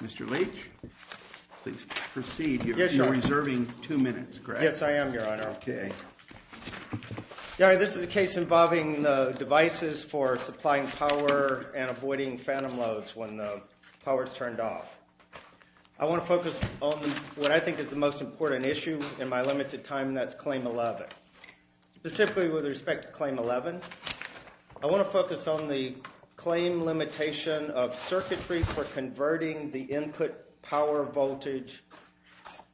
Mr. Leach, please proceed. You're reserving two minutes, correct? Yes, I am, Your Honor. Okay. Your Honor, this is a case involving devices for supplying power and avoiding phantom loads when the power is turned off. I want to focus on what I think is the most important issue in my limited time, and that's Claim 11. Specifically with respect to Claim 11, I want to focus on the claim limitation of circuitry for converting the input power voltage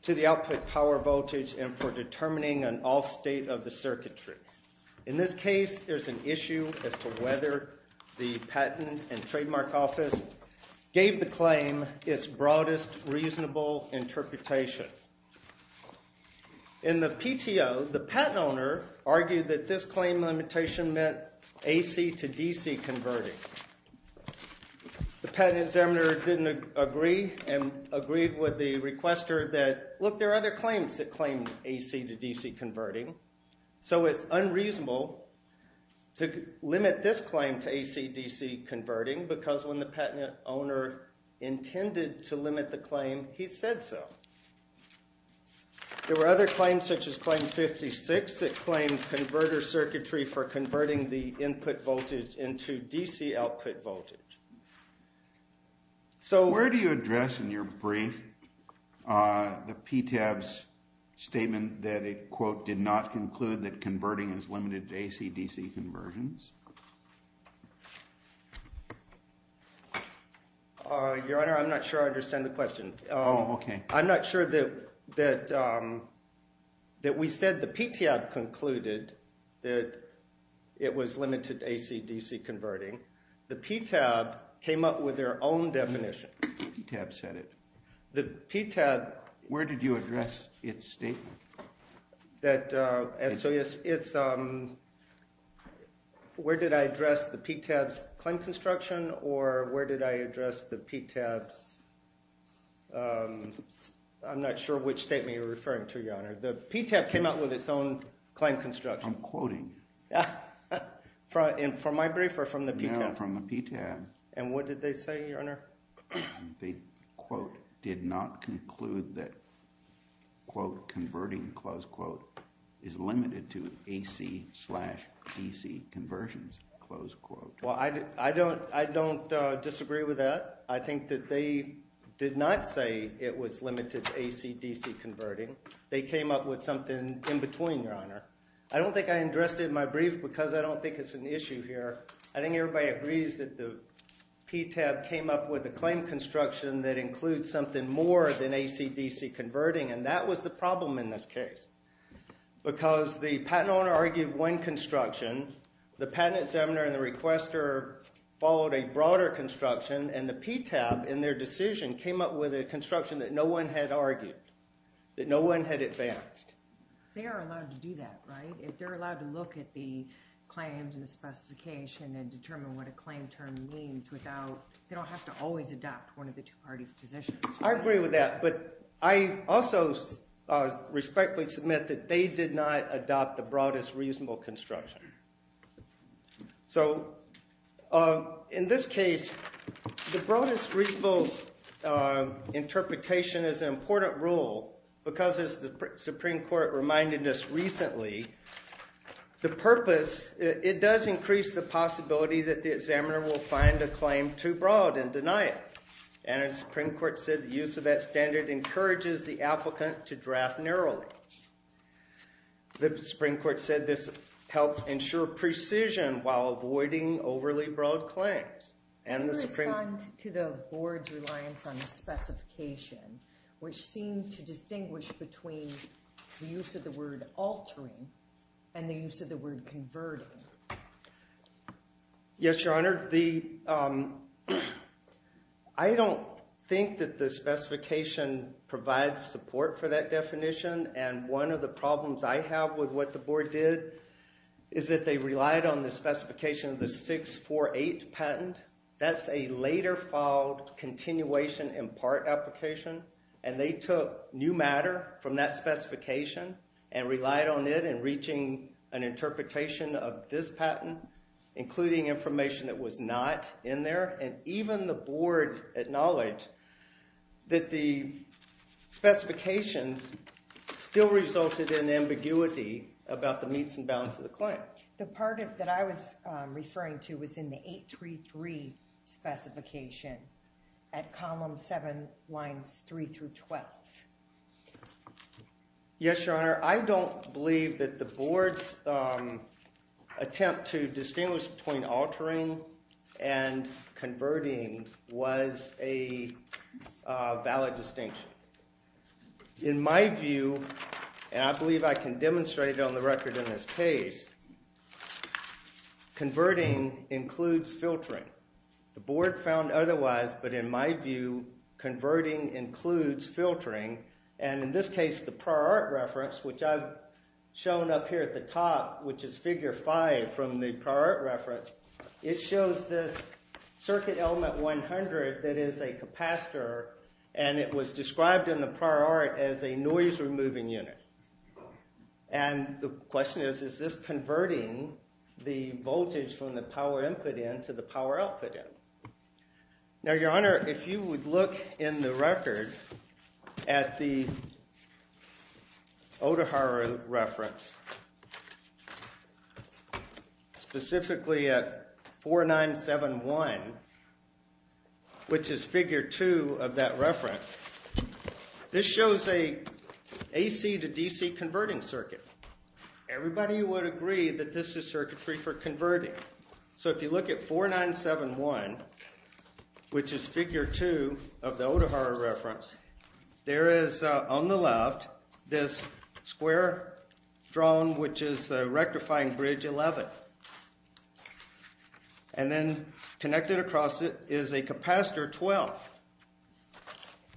to the output power voltage and for determining an off state of the circuitry. In this case, there's an issue as to whether the Patent and Trademark Office gave the claim its broadest reasonable interpretation. In the PTO, the patent owner argued that this claim limitation meant AC to DC converting. The patent examiner didn't agree and agreed with the requester that, look, there are other claims that claim AC to DC converting, so it's unreasonable to limit this claim to AC to DC converting because when the patent owner intended to limit the claim, he said so. There were other claims such as Claim 56 that claimed converter circuitry for converting the input voltage into DC output voltage. Where do you address in your brief the PTAB's statement that it, quote, did not conclude that converting is limited to AC to DC conversions? Your Honor, I'm not sure I understand the question. Oh, okay. I'm not sure that we said the PTAB concluded that it was limited to AC to DC converting. The PTAB came up with their own definition. The PTAB said it. The PTAB. Where did you address its statement? That, so yes, it's, where did I address the PTAB's claim construction or where did I address the PTAB's, I'm not sure which statement you're referring to, Your Honor. The PTAB came up with its own claim construction. I'm quoting. From my brief or from the PTAB? No, from the PTAB. And what did they say, Your Honor? They, quote, did not conclude that, quote, converting, close quote, is limited to AC slash DC conversions, close quote. Well, I don't disagree with that. I think that they did not say it was limited to AC, DC converting. They came up with something in between, Your Honor. I don't think I addressed it in my brief because I don't think it's an issue here. I think everybody agrees that the PTAB came up with a claim construction that includes something more than AC, DC converting, and that was the problem in this case. Because the patent owner argued one construction, the patent examiner and the requester followed a broader construction, and the PTAB, in their decision, came up with a construction that no one had argued, that no one had advanced. They are allowed to do that, right? If they're allowed to look at the claims and the specification and determine what a claim term means without, they don't have to always adopt one of the two parties' positions. I agree with that. But I also respectfully submit that they did not adopt the broadest reasonable construction. So in this case, the broadest reasonable interpretation is an important rule because, as the Supreme Court reminded us recently, the purpose, it does increase the possibility that the examiner will find a claim too broad and deny it. And as the Supreme Court said, the use of that standard encourages the applicant to draft narrowly. The Supreme Court said this helps ensure precision while avoiding overly broad claims. Can you respond to the board's reliance on the specification, which seemed to distinguish between the use of the word altering and the use of the word converting? Yes, Your Honor. I don't think that the specification provides support for that definition. And one of the problems I have with what the board did is that they relied on the specification of the 648 patent. That's a later filed continuation in part application. And they took new matter from that specification and relied on it in reaching an interpretation of this patent, including information that was not in there. And even the board acknowledged that the specifications still resulted in ambiguity about the meets and bounds of the claim. The part that I was referring to was in the 833 specification at column 7, lines 3 through 12. Yes, Your Honor. I don't believe that the board's attempt to distinguish between altering and converting was a valid distinction. In my view, and I believe I can demonstrate it on the record in this case, converting includes filtering. The board found otherwise, but in my view, converting includes filtering. And in this case, the prior art reference, which I've shown up here at the top, which is figure 5 from the prior art reference, it shows this circuit element 100 that is a capacitor. And it was described in the prior art as a noise removing unit. And the question is, is this converting the voltage from the power input end to the power output end? Now, Your Honor, if you would look in the record at the Odaharo reference, specifically at 4971, which is figure 2 of that reference, this shows an AC to DC converting circuit. Everybody would agree that this is circuitry for converting. So if you look at 4971, which is figure 2 of the Odaharo reference, there is on the left this square drawn, which is rectifying bridge 11. And then connected across it is a capacitor 12.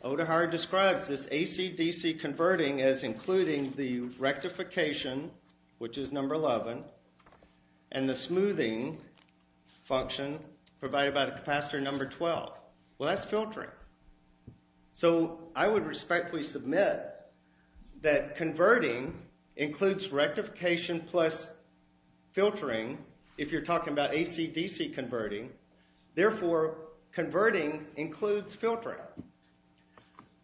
Odaharo describes this AC-DC converting as including the rectification, which is number 11, and the smoothing function provided by the capacitor number 12. Well, that's filtering. So I would respectfully submit that converting includes rectification plus filtering if you're talking about AC-DC converting. Therefore, converting includes filtering.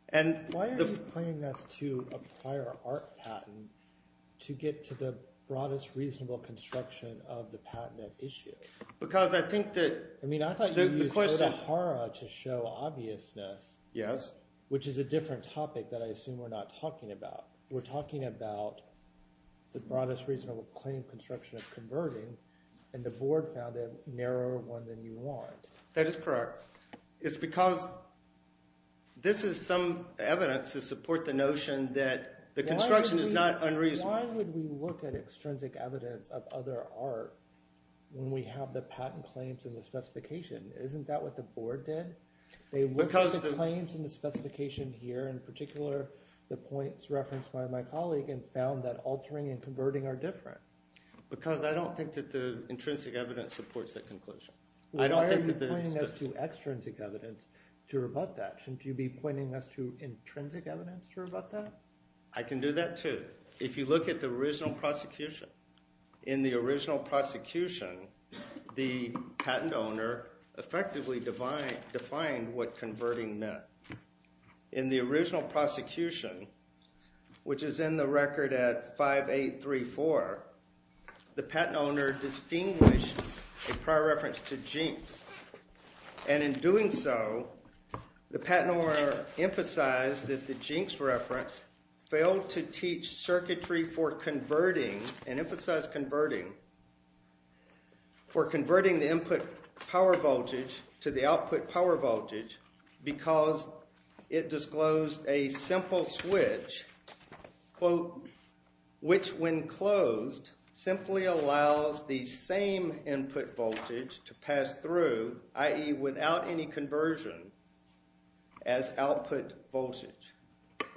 And why are you claiming this to a prior art patent to get to the broadest reasonable construction of the patent at issue? I mean, I thought you used Odaharo to show obviousness, which is a different topic that I assume we're not talking about. We're talking about the broadest reasonable claim construction of converting, and the board found a narrower one than you want. That is correct. It's because this is some evidence to support the notion that the construction is not unreasonable. Why would we look at extrinsic evidence of other art when we have the patent claims in the specification? Isn't that what the board did? They looked at the claims in the specification here, in particular the points referenced by my colleague, and found that altering and converting are different. Because I don't think that the intrinsic evidence supports that conclusion. Why are you pointing us to extrinsic evidence to rebut that? Shouldn't you be pointing us to intrinsic evidence to rebut that? I can do that too. If you look at the original prosecution, in the original prosecution, the patent owner effectively defined what converting meant. In the original prosecution, which is in the record at 5834, the patent owner distinguished a prior reference to Jinx. And in doing so, the patent owner emphasized that the Jinx reference failed to teach circuitry for converting, and emphasized converting, for converting the input power voltage to the output power voltage, because it disclosed a simple switch, quote, which when closed simply allows the same input voltage to pass through, i.e. without any conversion, as output voltage.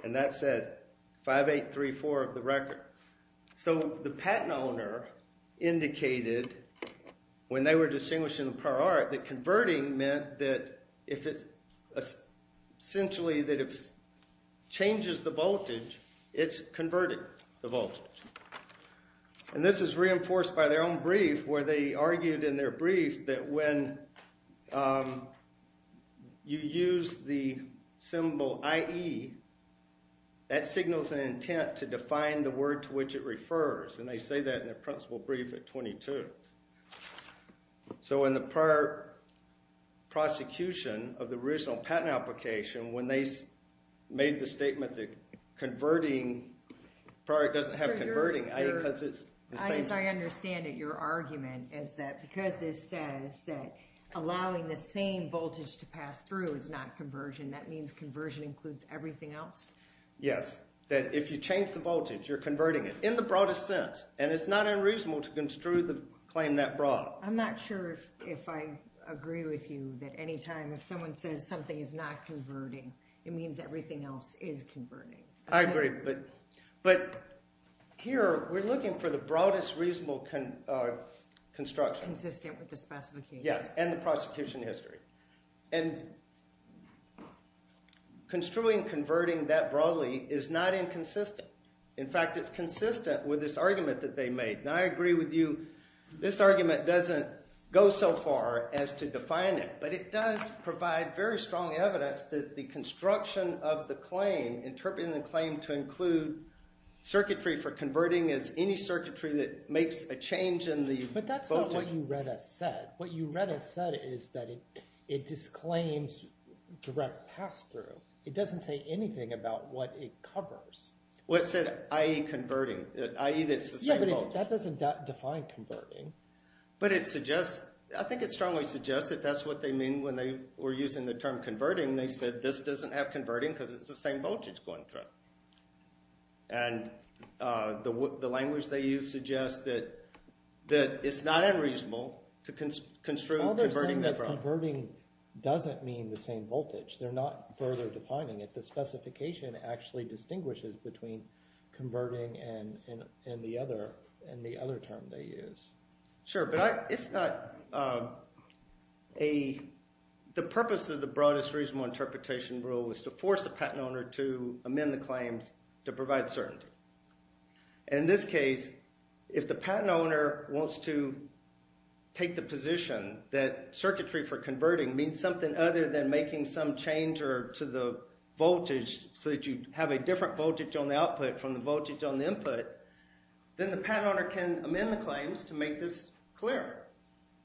And that's at 5834 of the record. So the patent owner indicated, when they were distinguishing the prior art, that converting meant that if it essentially changes the voltage, it's converting the voltage. And this is reinforced by their own brief, where they argued in their brief that when you use the symbol IE, that signals an intent to define the word to which it refers. And they say that in their principle brief at 22. So in the prior prosecution of the original patent application, when they made the statement that converting, prior doesn't have converting, I think because it's the same. As I understand it, your argument is that because this says that allowing the same voltage to pass through is not conversion, that means conversion includes everything else? Yes, that if you change the voltage, you're converting it, in the broadest sense. And it's not unreasonable to construe the claim that broad. I'm not sure if I agree with you that any time if someone says something is not converting, it means everything else is converting. I agree, but here we're looking for the broadest reasonable construction. Consistent with the specifications. Yes, and the prosecution history. And construing converting that broadly is not inconsistent. In fact, it's consistent with this argument that they made, and I agree with you. This argument doesn't go so far as to define it, but it does provide very strong evidence that the construction of the claim, interpreting the claim to include circuitry for converting is any circuitry that makes a change in the voltage. But what you read as said, what you read as said is that it disclaims direct pass through. It doesn't say anything about what it covers. Well, it said, i.e. converting, i.e. that it's the same voltage. Yeah, but that doesn't define converting. But it suggests, I think it strongly suggests that that's what they mean when they were using the term converting. They said this doesn't have converting because it's the same voltage going through it. And the language they use suggests that it's not unreasonable to construe converting that broadly. All they're saying is converting doesn't mean the same voltage. They're not further defining it. The specification actually distinguishes between converting and the other term they use. Sure, but it's not a – the purpose of the broadest reasonable interpretation rule was to force the patent owner to amend the claims to provide certainty. And in this case, if the patent owner wants to take the position that circuitry for converting means something other than making some change to the voltage so that you have a different voltage on the output from the voltage on the input, then the patent owner can amend the claims to make this clearer.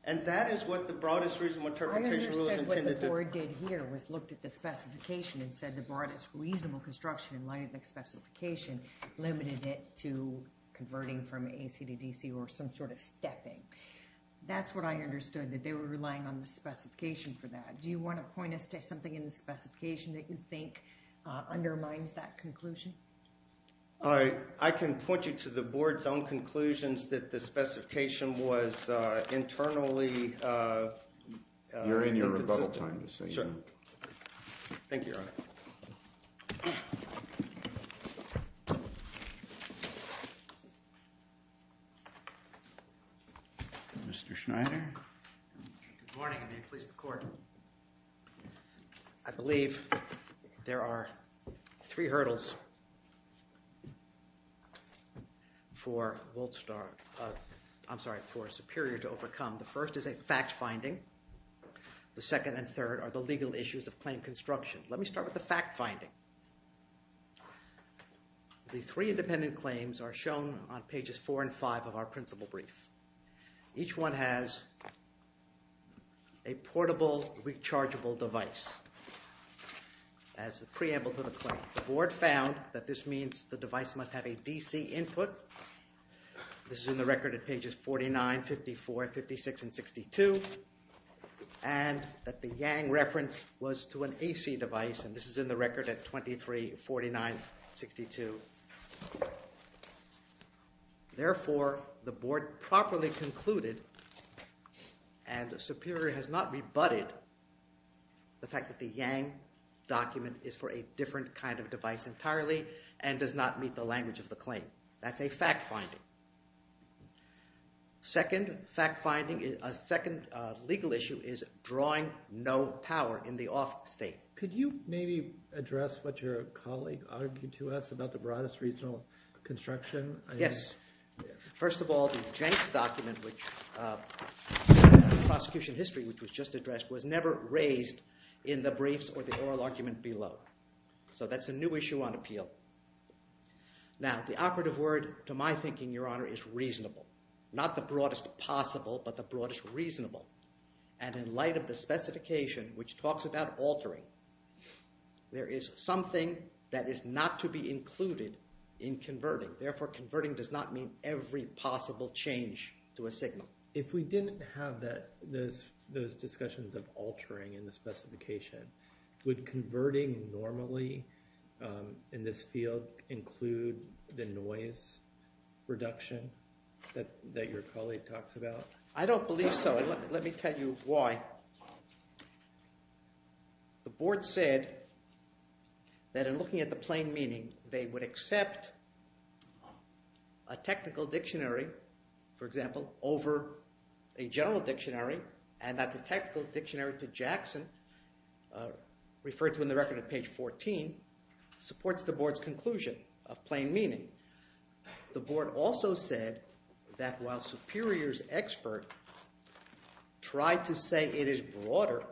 And that is what the broadest reasonable interpretation rule is intended to – I understand what the board did here was looked at the specification and said the broadest reasonable construction in light of the specification. Limited it to converting from AC to DC or some sort of stepping. That's what I understood, that they were relying on the specification for that. Do you want to point us to something in the specification that you think undermines that conclusion? I can point you to the board's own conclusions that the specification was internally inconsistent. You're in your rebuttal time. Sure. Thank you, Your Honor. Mr. Schneider. Good morning and may it please the court. I believe there are three hurdles for Wolfstar – I'm sorry, for Superior to overcome. The first is a fact finding. The second and third are the legal issues of claim construction. Let me start with the fact finding. The three independent claims are shown on pages four and five of our principal brief. Each one has a portable rechargeable device as a preamble to the claim. The board found that this means the device must have a DC input. This is in the record at pages 49, 54, 56, and 62. And that the Yang reference was to an AC device and this is in the record at 23, 49, 62. Therefore, the board properly concluded and Superior has not rebutted the fact that the Yang document is for a different kind of device entirely and does not meet the language of the claim. That's a fact finding. Second fact finding, a second legal issue is drawing no power in the off state. Could you maybe address what your colleague argued to us about the broadest reasonable construction? Yes. First of all, the Jenks document, the prosecution history which was just addressed, was never raised in the briefs or the oral argument below. So that's a new issue on appeal. Now, the operative word to my thinking, Your Honor, is reasonable. Not the broadest possible, but the broadest reasonable. And in light of the specification which talks about altering, there is something that is not to be included in converting. Therefore, converting does not mean every possible change to a signal. If we didn't have those discussions of altering in the specification, would converting normally in this field include the noise reduction that your colleague talks about? I don't believe so and let me tell you why. The board said that in looking at the plain meaning, they would accept a technical dictionary, for example, over a general dictionary and that the technical dictionary to Jackson, referred to in the record at page 14, supports the board's conclusion of plain meaning. The board also said that while Superior's expert tried to say it is broader,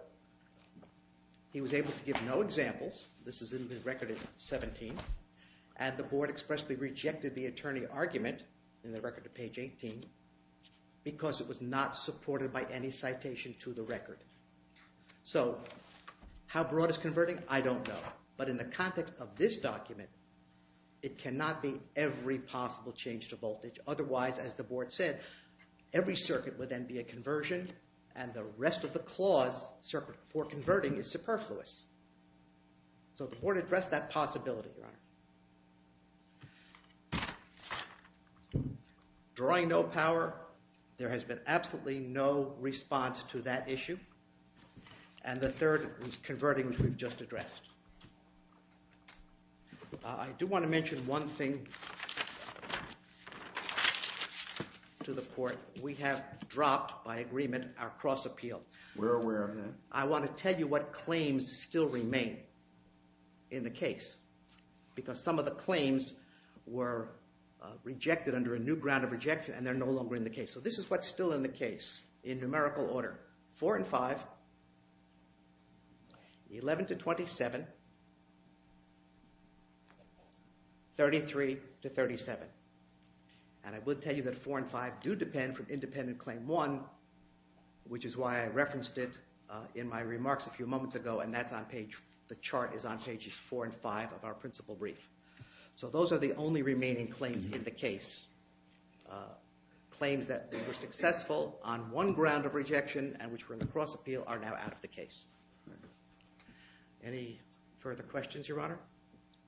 he was able to give no examples. This is in the record at 17. And the board expressly rejected the attorney argument in the record at page 18 because it was not supported by any citation to the record. So how broad is converting? I don't know. But in the context of this document, it cannot be every possible change to voltage. Otherwise, as the board said, every circuit would then be a conversion and the rest of the clause for converting is superfluous. So the board addressed that possibility. Thank you, Your Honor. Drawing no power, there has been absolutely no response to that issue. And the third was converting, which we've just addressed. I do want to mention one thing to the court. We have dropped, by agreement, our cross-appeal. We're aware of that. I want to tell you what claims still remain in the case because some of the claims were rejected under a new ground of rejection and they're no longer in the case. So this is what's still in the case in numerical order. 4 and 5, 11 to 27, 33 to 37. And I will tell you that 4 and 5 do depend from independent claim 1, which is why I referenced it in my remarks a few moments ago. And the chart is on pages 4 and 5 of our principal brief. So those are the only remaining claims in the case. Claims that were successful on one ground of rejection and which were in the cross-appeal are now out of the case. Any further questions, Your Honor?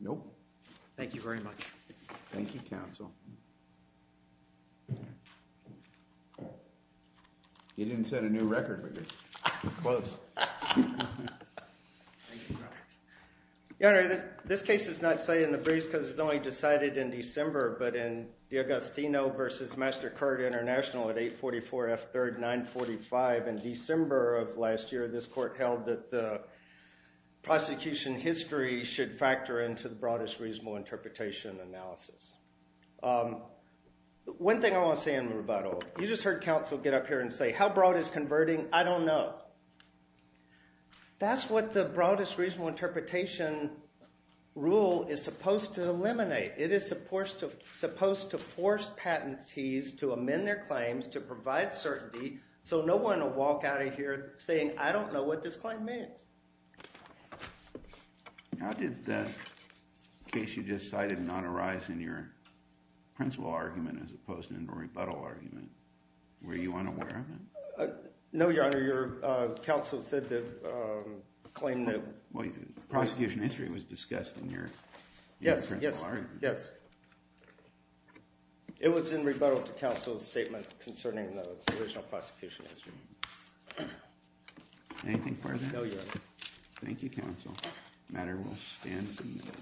Nope. Thank you very much. Thank you, counsel. You didn't set a new record, but you're close. Your Honor, this case is not set in the breeze because it's only decided in December, but in D'Agostino versus MasterCard International at 844 F 3rd 945 in December of last year, this court held that the prosecution history should factor into the broadest reasonable interpretation analysis. One thing I want to say in rebuttal, you just heard counsel get up here and say, how broad is converting? I don't know. That's what the broadest reasonable interpretation rule is supposed to eliminate. It is supposed to force patentees to amend their claims to provide certainty so no one will walk out of here saying, I don't know what this claim means. How did the case you just cited not arise in your principal argument as opposed to in the rebuttal argument? Were you unaware of it? No, Your Honor. Your counsel said that the claim that Well, the prosecution history was discussed in your principal argument. Yes. It was in rebuttal to counsel's statement concerning the original prosecution history. Anything further? No, Your Honor. Thank you, counsel. The matter will stand as amended.